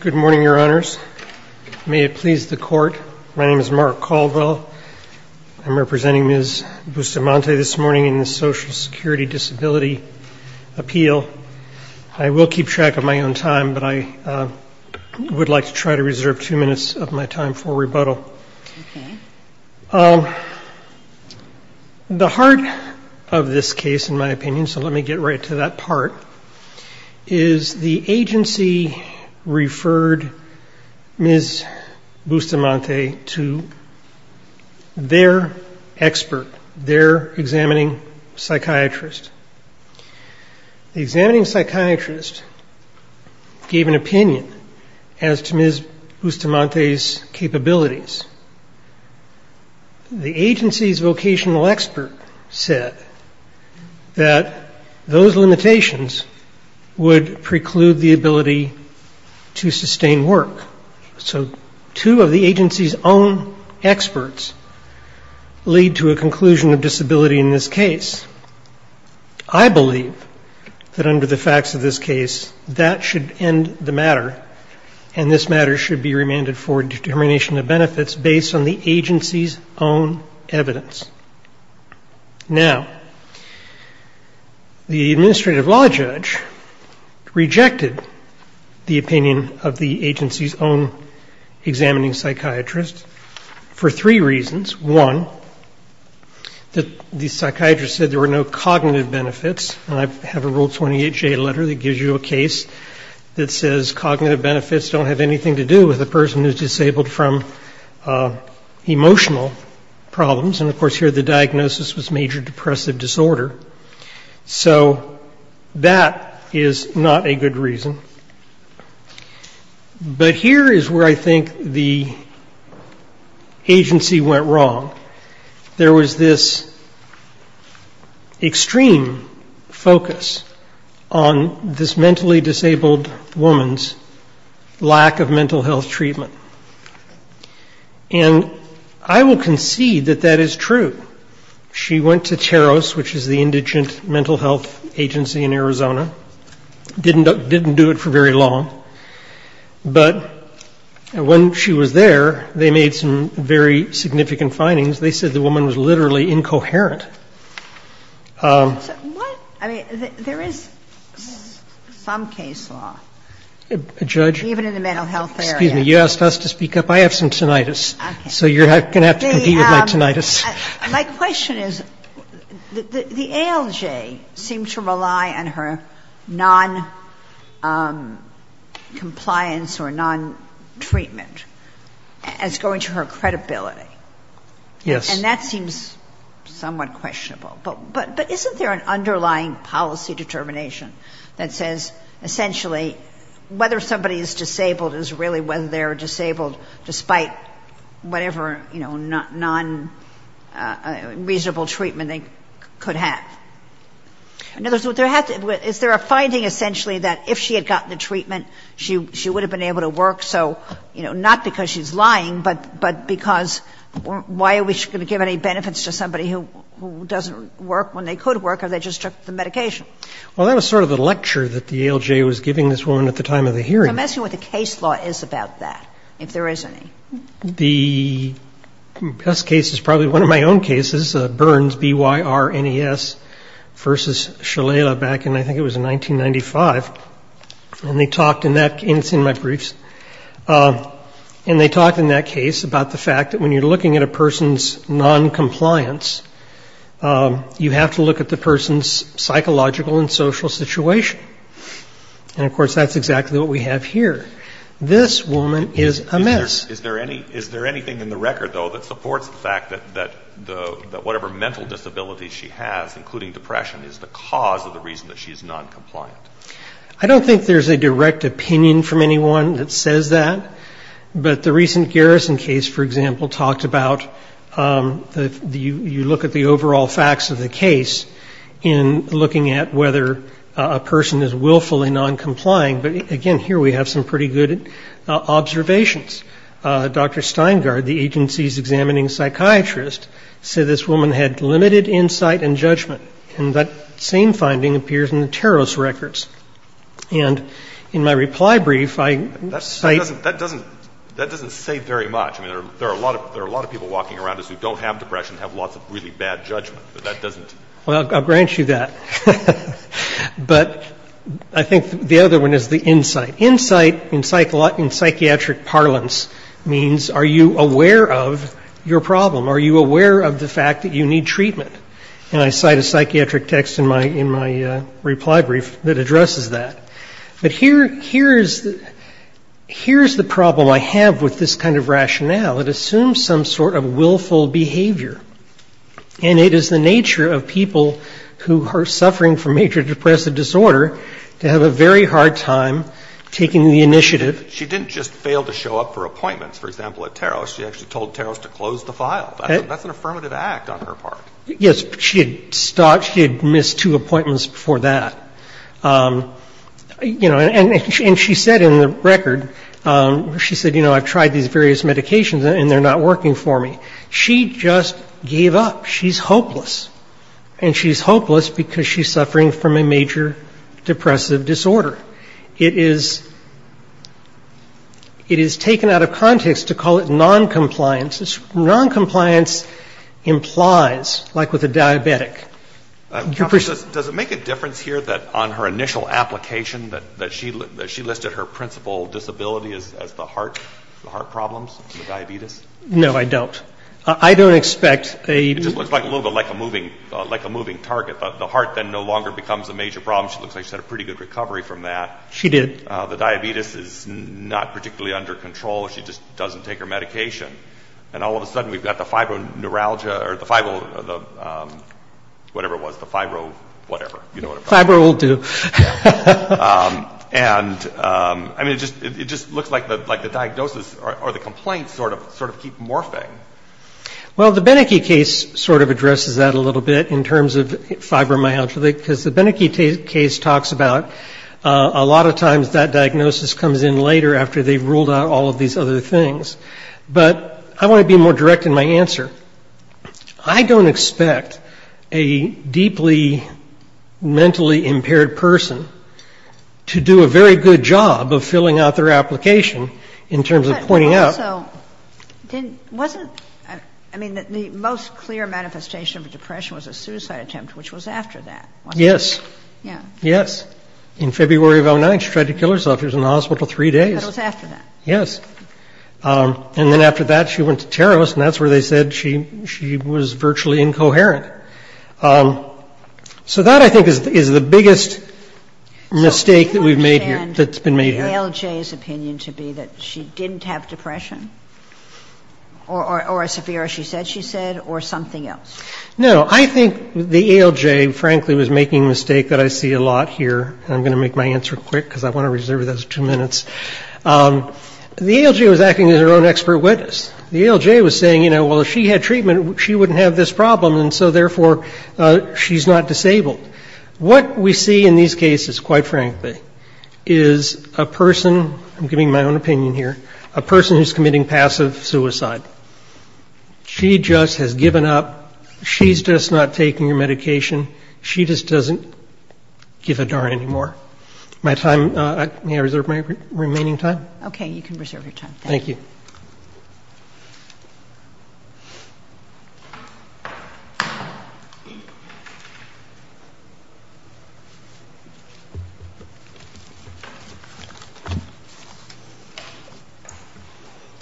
Good morning, Your Honors. May it please the Court, my name is Mark Colville. I'm representing Ms. Bustamante this morning in the Social Security Disability Appeal. I will keep track of my own time, but I would like to try to reserve two minutes of my time for rebuttal. The heart of this case, in my opinion, so let me get right to that part, is the agency referred Ms. Bustamante to their expert, their examining psychiatrist. The examining psychiatrist referred Ms. Bustamante's capabilities. The agency's vocational expert said that those limitations would preclude the ability to sustain work. So two of the agency's own experts lead to a conclusion of disability in this case. I believe that under the facts of this case, that should end the matter, and this matter should be remanded for determination of benefits based on the agency's own evidence. Now, the administrative law judge rejected the opinion of the agency's own examining psychiatrist for three reasons. One, the psychiatrist said there were no cognitive benefits, and I have a Rule 28J letter that gives you a case that says cognitive benefits don't have anything to do with a person who is disabled from emotional problems, and of course here the diagnosis was major depressive disorder. So that is not a good reason. But here is where I think the agency went wrong. There was this extreme focus on this mentally disabled woman's lack of mental health treatment. And I will concede that that is true. She went to Teros, which is the indigent mental health agency in Arizona. Didn't do it for very long. But when she was there, they made some very significant findings. They said the woman was literally incoherent. Ginsburg. What? I mean, there is some case law. Waxman. Judge? Ginsburg. Even in the mental health area. Waxman. Excuse me. You asked us to speak up. I have some tinnitus, so you're going to have to compete with my tinnitus. Ginsburg. My question is, the ALJ seemed to rely on her noncompliance or nontreatment as going to her credibility. And that seems somewhat questionable. But isn't there an underlying policy determination that says, essentially, whether somebody is disabled is really whether they are disabled despite whatever nonreasonable treatment they could have. Is there a finding, essentially, that if she had gotten the treatment, she would have been able to work? So, you know, not because she's lying, but because why are we going to give any benefits to somebody who doesn't work when they could work if they just took the medication? Waxman. Well, that was sort of the lecture that the ALJ was giving this woman at the time of the hearing. Ginsburg. I'm asking what the case law is about that, if there is any. Waxman. The best case is probably one of my own cases, Burns, B-Y-R-N-E-S, v. Shalala back in, I think it was in 1995. And they talked in that case, it's in my briefs, and they talked in that case about the fact that when you're looking at a person's noncompliance, you have to look at the person's psychological and social situation. And, of course, that's exactly what we have here. This woman is a mess. O'Reilly. Is there anything in the record, though, that supports the fact that whatever mental disability she has, including depression, is the cause of the reason that she's noncompliant? Waxman. I don't think there's a direct opinion from anyone that says that. But the recent Garrison case, for example, talked about you look at the overall facts of the case in looking at whether a person is willfully noncompliant. But, again, here we have some pretty good limited insight and judgment. And that same finding appears in the Teros records. And in my reply brief, I cite — O'Reilly. That doesn't say very much. I mean, there are a lot of people walking around us who don't have depression, have lots of really bad judgment. But that doesn't — Waxman. Well, I'll grant you that. But I think the other one is the insight. Insight in psychiatric parlance means are you aware of your problem? Are you aware of the fact that you need treatment? And I cite a psychiatric text in my reply brief that addresses that. But here's the problem I have with this kind of rationale. It assumes some sort of willful behavior. And it is the nature of people who are suffering from major depressive disorder to have a very hard time taking the initiative — O'Reilly. She didn't just fail to show up for appointments, for example, at Teros. She actually told Teros to close the file. That's an affirmative act on her part. Waxman. Yes. She had stopped — she had missed two appointments before that. You know, and she said in the record — she said, you know, I've tried these various medications and they're not working for me. She just gave up. She's hopeless. And she's hopeless because she's suffering from a major depressive disorder. It is — it is taken out of context to call it noncompliance. Noncompliance implies, like with a diabetic — Counselor, does it make a difference here that on her initial application that she listed her principal disability as the heart, the heart problems, the diabetes? No, I don't. I don't expect a — It just looks a little bit like a moving — like a moving target. The heart then no longer becomes a major problem. She looks like she's had a pretty good recovery from that. She did. The diabetes is not particularly under control. She just doesn't take her medication. And all of a sudden we've got the fibro neuralgia or the fibro — whatever it was, the fibro whatever. You know what I'm talking about. Fibro will do. And I mean, it just — it just looks like the — like the diagnosis or the complaint sort of — sort of keep morphing. Well, the Beneke case sort of addresses that a little bit in terms of fibromyalgia because the Beneke case talks about a lot of times that diagnosis comes in later after they've ruled out all of these other things. But I want to be more direct in my answer. I don't expect a deeply mentally impaired person to do a very good job of filling out their application in terms of pointing out — But also, didn't — wasn't — I mean, the most clear manifestation of depression was Yes. Yeah. Yes. In February of 2009, she tried to kill herself. She was in the hospital three days. That was after that. Yes. And then after that, she went to terrorists, and that's where they said she — she was virtually incoherent. So that, I think, is the biggest mistake that we've made here — that's been made here. So do you understand the ALJ's opinion to be that she didn't have depression or as severe as she said she said or something else? No. I think the ALJ, frankly, was making a mistake that I see a lot here. I'm going to make my answer quick because I want to reserve those two minutes. The ALJ was acting as their own expert witness. The ALJ was saying, you know, well, if she had treatment, she wouldn't have this problem, and so, therefore, she's not disabled. What we see in these cases, quite frankly, is a person — I'm giving my own opinion here — a person who's committing passive suicide. She just has given up. She's just not taking her medication. She just doesn't give a darn anymore. My time — may I reserve my remaining time? Okay. You can reserve your time. Thank you.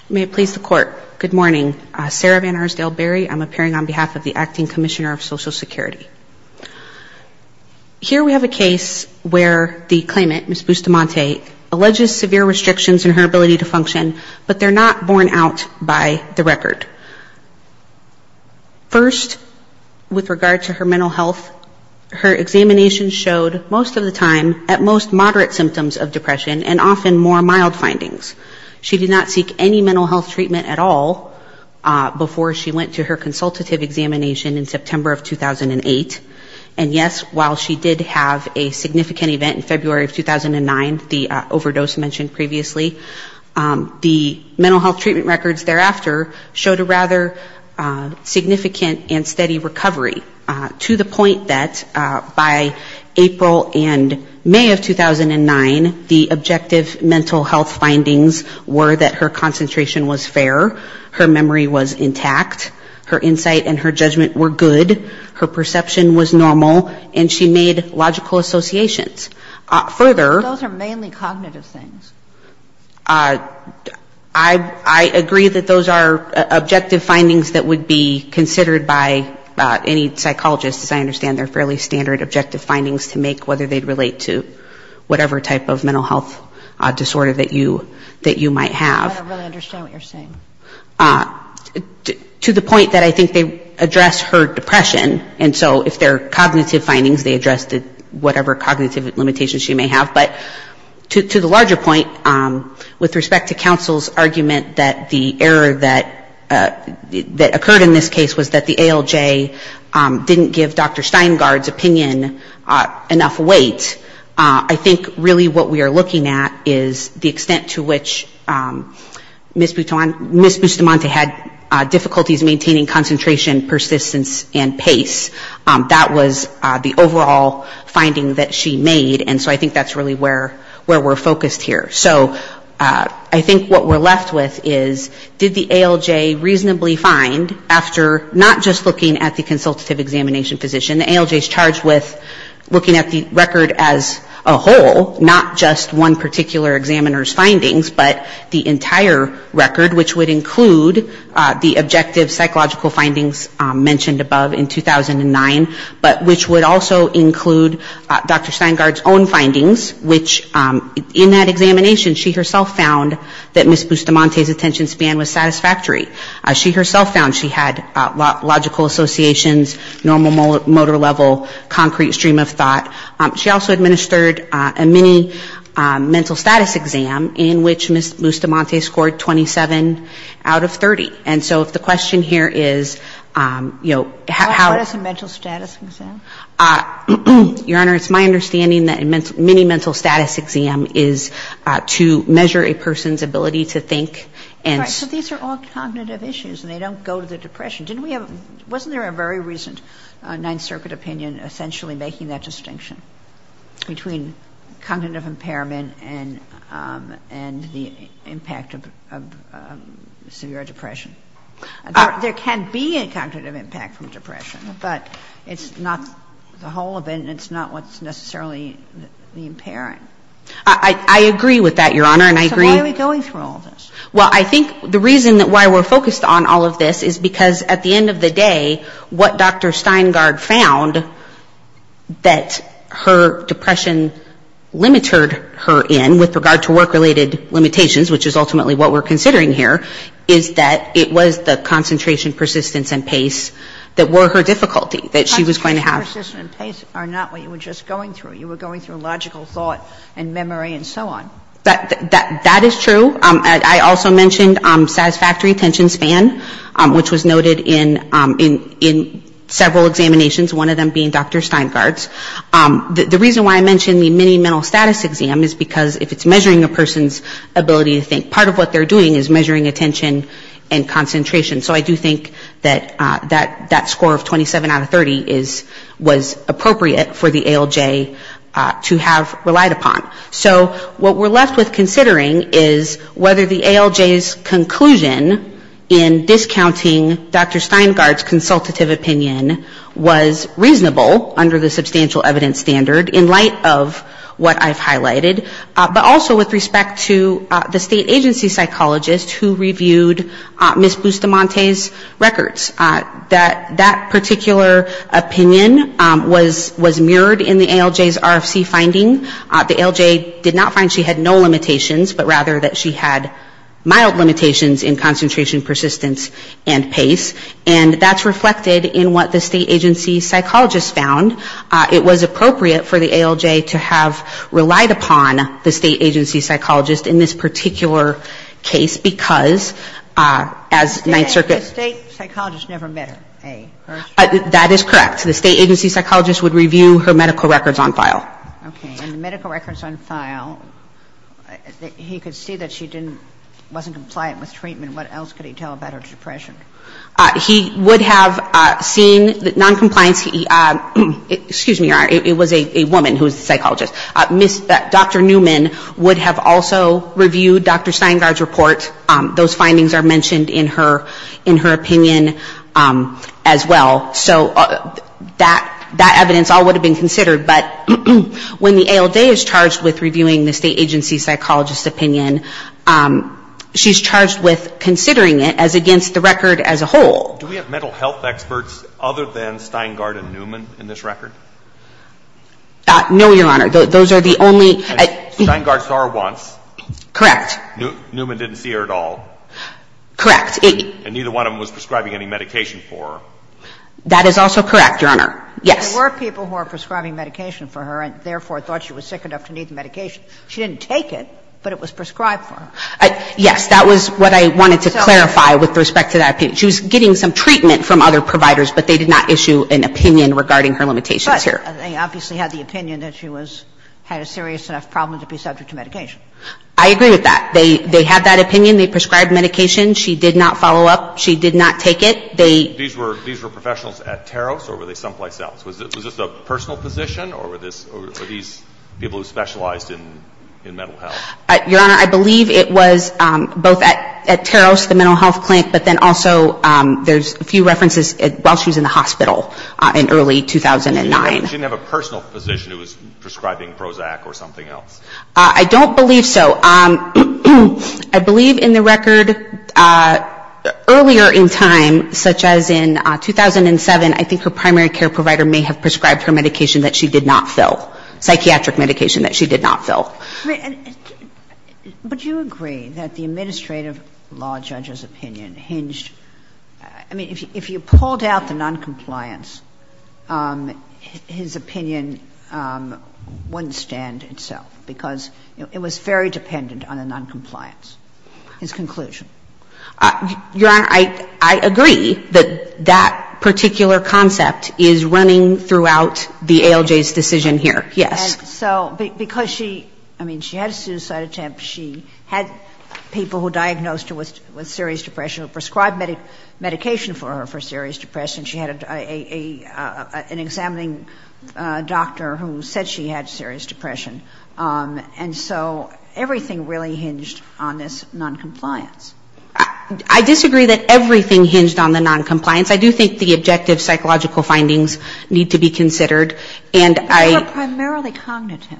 May it please the Court. Good morning. Sarah Van Arsdale Berry. I'm appearing on behalf of the Acting Commissioner of Social Security. Here we have a case where the claimant, Ms. Bustamante, alleges severe restrictions in her ability to function, but they're not borne out by the record. First, with regard to her mental health, her examination showed, most of the time, at most she did not seek any mental health treatment at all before she went to her consultative examination in September of 2008. And, yes, while she did have a significant event in February of 2009, the overdose mentioned previously, the mental health treatment records thereafter showed a rather significant and steady recovery, to the point that by April and May of 2009, the objective mental health findings were that her concentration was fair, her memory was intact, her insight and her judgment were good, her perception was normal, and she made logical associations. Further — Those are mainly cognitive things. I agree that those are objective findings that would be considered by any psychologist, as I understand they're fairly standard objective findings to make, whether they relate to whatever type of mental health disorder that you might have. I don't really understand what you're saying. To the point that I think they address her depression, and so if they're cognitive findings, they address whatever cognitive limitations she may have. But to the larger point, with respect to counsel's argument that the error that occurred in this case was that the ALJ didn't give Dr. Steingard's opinion enough weight, I think really what we are looking at is the extent to which Ms. Bustamante had difficulties maintaining concentration, persistence and pace. That was the overall finding that she made, and so I think that's really where we're focused here. So I think what we're left with is, did the ALJ reasonably find, after not just looking at the consultative examination physician, the ALJ is charged with looking at the record as a whole, not just one particular examiner's findings, but the entire record, which would include the objective psychological findings mentioned above in 2009, but which would also include Dr. Steingard's own findings, which in that examination she herself found that normal motor level, concrete stream of thought. She also administered a mini mental status exam in which Ms. Bustamante scored 27 out of 30. And so if the question here is, you know, how — What is a mental status exam? Your Honor, it's my understanding that a mini mental status exam is to measure a person's ability to think and — Right. So these are all cognitive issues and they don't go to the depression. Didn't we have — wasn't there a very recent Ninth Circuit opinion essentially making that distinction between cognitive impairment and the impact of severe depression? There can be a cognitive impact from depression, but it's not the whole of it and it's not what's necessarily the impairing. I agree with that, Your Honor, and I agree — So why are we going through all this? Well, I think the reason why we're focused on all of this is because at the end of the day, what Dr. Steingard found that her depression limited her in with regard to work-related limitations, which is ultimately what we're considering here, is that it was the concentration, persistence and pace that were her difficulty, that she was going to have — Concentration, persistence and pace are not what you were just going through. You were going through logical thought and memory and so on. That is true. I also mentioned satisfactory attention span, which was noted in several examinations, one of them being Dr. Steingard's. The reason why I mentioned the mini mental status exam is because if it's measuring a person's ability to think, part of what they're doing is measuring attention and concentration. So I do think that that score of 27 out of 30 was appropriate for the ALJ to have relied upon. So what we're left with considering is whether the ALJ's conclusion in discounting Dr. Steingard's consultative opinion was reasonable under the substantial evidence standard in light of what I've highlighted, but also with respect to the state agency psychologist who reviewed Ms. Bustamante's records. That particular opinion was mirrored in the ALJ's RFC finding. The ALJ did not find she had no limitations, but rather that she had mild limitations in concentration, persistence and pace. And that's reflected in what the state agency psychologist found. It was appropriate for the ALJ to have relied upon the state agency psychologist in this particular case because as Ninth Circuit — The state psychologist never met her, A. That is correct. The state agency psychologist would review her medical records on file. Okay. And the medical records on file, he could see that she didn't — wasn't compliant with treatment. What else could he tell about her depression? He would have seen that noncompliance — excuse me, it was a woman who was the psychologist. Dr. Newman would have also reviewed Dr. Steingard's report. Those findings are mentioned in her opinion as well. So that evidence all would have been considered. But when the ALJ is charged with reviewing the state agency psychologist's opinion, she's charged with considering it as against the record as a whole. Do we have mental health experts other than Steingard and Newman in this record? No, Your Honor. Those are the only — Steingard saw her once. Correct. Newman didn't see her at all. Correct. And neither one of them was prescribing any medication for her. That is also correct, Your Honor. Yes. There were people who were prescribing medication for her and therefore thought she was sick enough to need the medication. She didn't take it, but it was prescribed for her. Yes. That was what I wanted to clarify with respect to that opinion. She was getting some treatment from other providers, but they did not issue an opinion regarding her limitations here. But they obviously had the opinion that she was — had a serious enough problem to be subject to medication. I agree with that. They had that opinion. They prescribed medication. She did not follow up. She did not take it. They — These were professionals at Taros or were they someplace else? Was this a personal position or were these people who specialized in mental health? Your Honor, I believe it was both at Taros, the mental health clinic, but then also there's a few references while she was in the hospital in early 2009. She didn't have a personal physician who was prescribing Prozac or something else. I don't believe so. I believe in the record earlier in time, such as in 2007, I think her primary care provider may have prescribed her medication that she did not fill, psychiatric medication that she did not fill. But do you agree that the administrative law judge's opinion hinged — I mean, if you pulled out the noncompliance, his opinion wouldn't stand itself, because it was very dependent on the noncompliance, his conclusion. Your Honor, I agree that that particular concept is running throughout the ALJ's decision here, yes. So because she — I mean, she had a suicide attempt. She had people who diagnosed her with serious depression who prescribed medication for her for serious depression. She had an examining doctor who said she had serious depression. And so everything really hinged on this noncompliance. I disagree that everything hinged on the noncompliance. I do think the objective psychological findings need to be considered, and I — But they were primarily cognitive,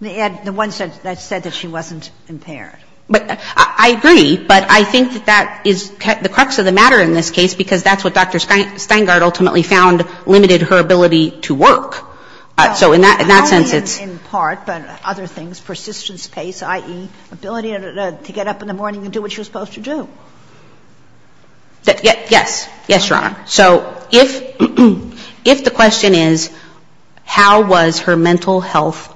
the ones that said that she wasn't impaired. But I agree, but I think that that is the crux of the matter in this case, because that's what Dr. Steingart ultimately found limited her ability to work. So in that sense, it's — Well, not only in part, but other things. Persistence, pace, i.e., ability to get up in the morning and do what she was supposed to do. Yes. Yes, Your Honor. So if the question is how was her mental health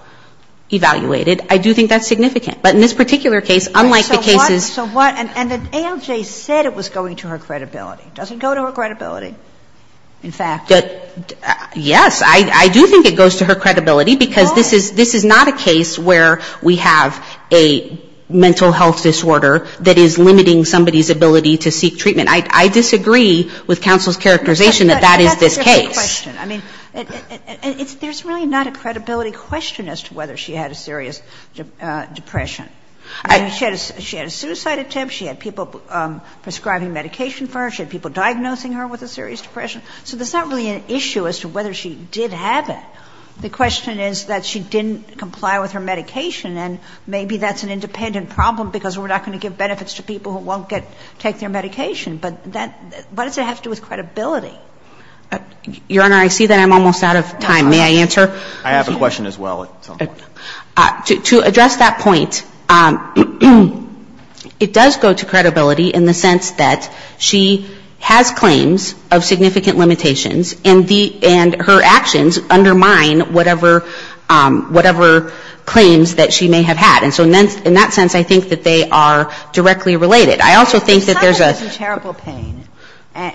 evaluated, I do think that's significant. But in this particular case, unlike the cases — So what — so what — and ALJ said it was going to her credibility. It doesn't go to her credibility, in fact. Yes. I do think it goes to her credibility, because this is not a case where we have a mental health disorder that is limiting somebody's ability to seek treatment. I disagree with counsel's characterization that that is this case. But that's a different question. I mean, it's — there's really not a credibility question as to whether she had a serious depression. I mean, she had a — she had a suicide attempt. She had people prescribing medication for her. She had people diagnosing her with a serious depression. So there's not really an issue as to whether she did have it. The question is that she didn't comply with her medication. And maybe that's an independent problem, because we're not going to give benefits to people who won't get — take their medication. But that — what does it have to do with credibility? Your Honor, I see that I'm almost out of time. May I answer? I have a question as well, at some point. To address that point, it does go to credibility in the sense that she has claims of significant limitations, and the — and her actions undermine whatever — whatever claims that she may have had. And so in that sense, I think that they are directly related. I also think that there's a — If a child is in terrible pain,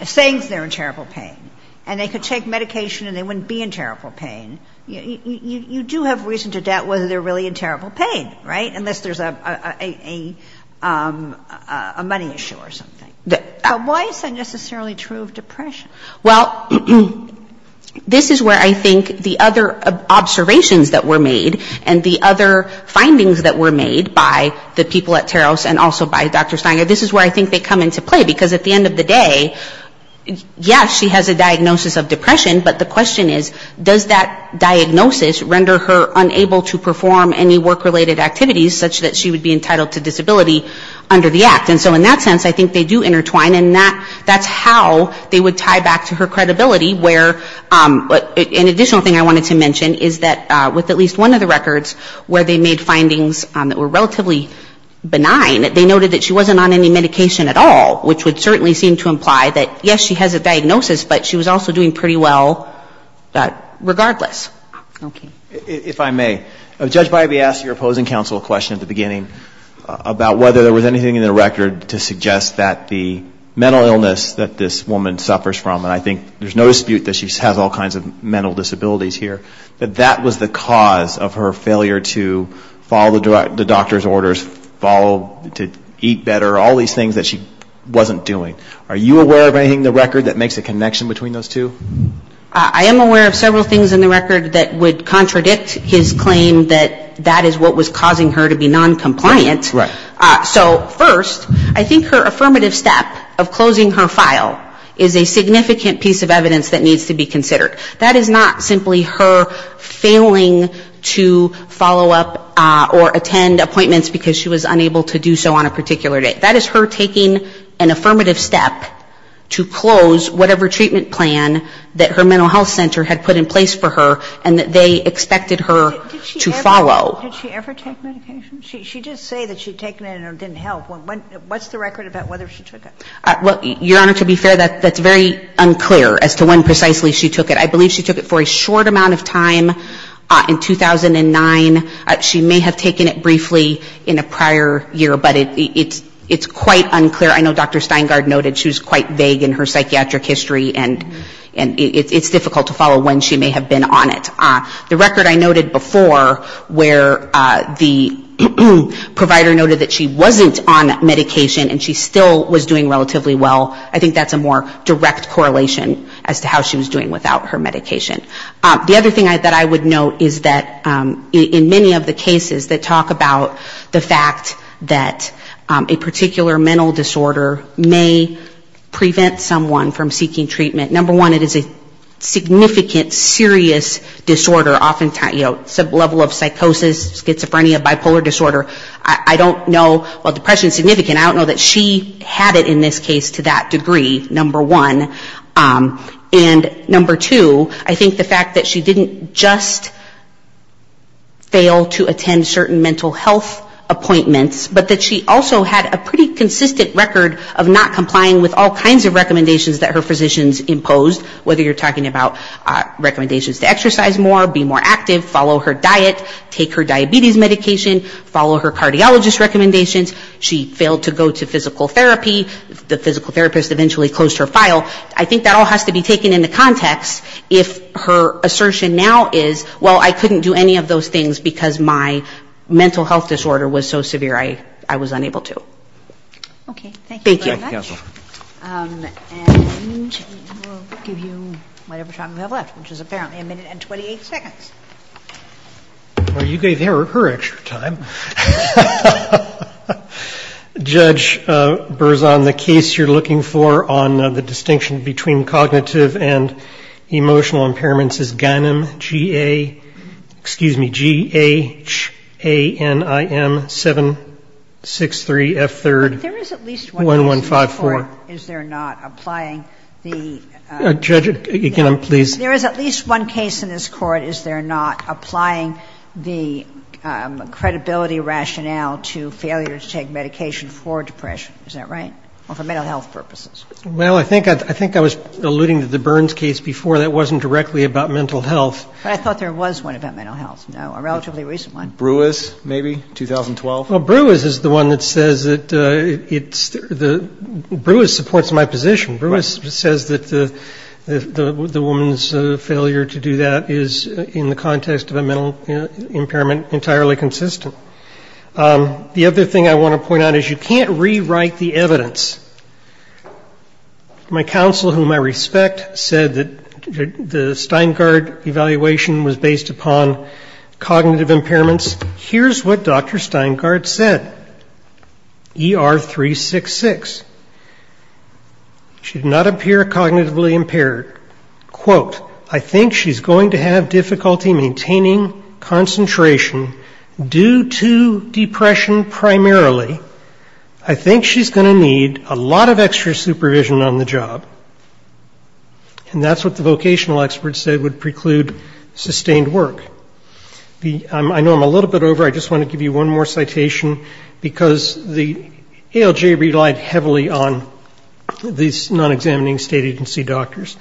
saying they're in terrible pain, and they could take medication and they wouldn't be in terrible pain, you do have reason to doubt whether they're really in terrible pain, right? Unless there's a money issue or something. But why is that necessarily true of depression? Well, this is where I think the other observations that were made and the other findings that were made by the people at Taros and also by Dr. Steiner, this is where I think they come into play. Because at the end of the day, yes, she has a diagnosis of depression, but the question is, does that diagnosis render her unable to perform any work-related activities such that she would be entitled to disability under the Act? And so in that sense, I think they do intertwine, and that's how they would tie back to her credibility where — an additional thing I wanted to mention is that with at least one of the records where they made findings that were relatively to imply that, yes, she has a diagnosis, but she was also doing pretty well regardless. Okay. If I may, Judge Bybee asked your opposing counsel a question at the beginning about whether there was anything in the record to suggest that the mental illness that this woman suffers from, and I think there's no dispute that she has all kinds of mental disabilities here, that that was the cause of her failure to follow the doctor's orders, follow — to eat better, all these things that she wasn't doing. Are you aware of anything in the record that makes a connection between those two? I am aware of several things in the record that would contradict his claim that that is what was causing her to be noncompliant. Right. So first, I think her affirmative step of closing her file is a significant piece of evidence that needs to be considered. That is not simply her failing to follow up or attend appointments because she was unable to do so on a particular day. That is her taking an affirmative step to close whatever treatment plan that her mental health center had put in place for her and that they expected her to follow. Did she ever take medication? She did say that she had taken it and it didn't help. What's the record about whether she took it? Your Honor, to be fair, that's very unclear as to when precisely she took it. I believe she took it for a short amount of time in 2009. She may have taken it briefly in a prior year, but it's quite unclear. I know Dr. Steingard noted she was quite vague in her psychiatric history and it's difficult to follow when she may have been on it. The record I noted before where the provider noted that she wasn't on medication and she still was doing relatively well, I think that's a more direct correlation as to how she was doing without her medication. The other thing that I would note is that in many of the cases that talk about the fact that a particular mental disorder may prevent someone from seeking treatment, number one, it is a significant, serious disorder, oftentimes, you know, some level of psychosis, schizophrenia, bipolar disorder. I don't know, while depression is significant, I don't know that she had it in this case to that degree, number one. And number two, I think the fact that she didn't just fail to attend certain mental health appointments, but that she also had a pretty consistent record of not complying with all kinds of recommendations that her physicians imposed, whether you're talking about recommendations to exercise more, be more active, follow her diet, take her diabetes medication, follow her cardiologist recommendations, she failed to go to physical therapy, the physical therapist eventually closed her file, I think that all has to be taken into context if her assertion now is, well, I couldn't do any of those things because my mental health disorder was so severe I was unable to. Thank you very much. And we'll give you whatever time we have left, which is apparently a minute and 28 seconds. Well, you gave her extra time. Judge Berzon, the case you're looking for on the distinction between cognitive and emotional impairments is GANIM, G-A, excuse me, G-A-N-I-M-7-6-3-F-3-1-1-5-4. There is at least one case in this Court is there not applying the ‑‑ Judge, again, please. There is at least one case in this Court is there not applying the credibility rationale to failure to take medication for depression, is that right, or for mental health purposes? Well, I think I was alluding to the Burns case before. That wasn't directly about mental health. But I thought there was one about mental health, a relatively recent one. Brewis, maybe, 2012? Well, Brewis is the one that says that it's ‑‑ Brewis supports my position. Right. Brewis says that the woman's failure to do that is, in the context of a mental impairment, entirely consistent. The other thing I want to point out is you can't rewrite the evidence. My counsel, whom I respect, said that the Steingard evaluation was based upon cognitive impairments. Here's what Dr. Steingard said, ER366. She did not appear cognitively impaired. Quote, I think she's going to have difficulty maintaining concentration due to depression primarily. I think she's going to need a lot of extra supervision on the job. And that's what the vocational experts said would preclude sustained work. I know I'm a little bit over. I just want to give you one more citation because the ALJ relied heavily on these non‑examining state agency doctors.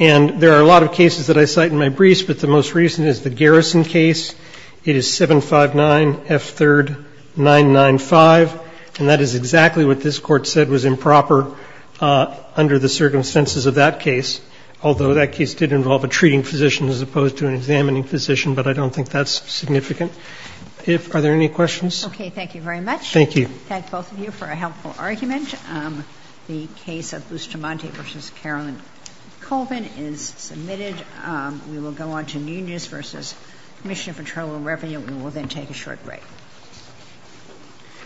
And there are a lot of cases that I cite in my briefs, but the most recent is the Garrison case. It is 759F3995. And that is exactly what this court said was improper under the circumstances of that case, although that case did involve a treating physician as opposed to an examining physician. But I don't think that's significant. Are there any questions? Okay. Thank you very much. Thank you. Thank both of you for a helpful argument. The case of Bustamante v. Carolyn Colvin is submitted. We will go on to new news v. Commissioner for Tribal Revenue. We will then take a short break.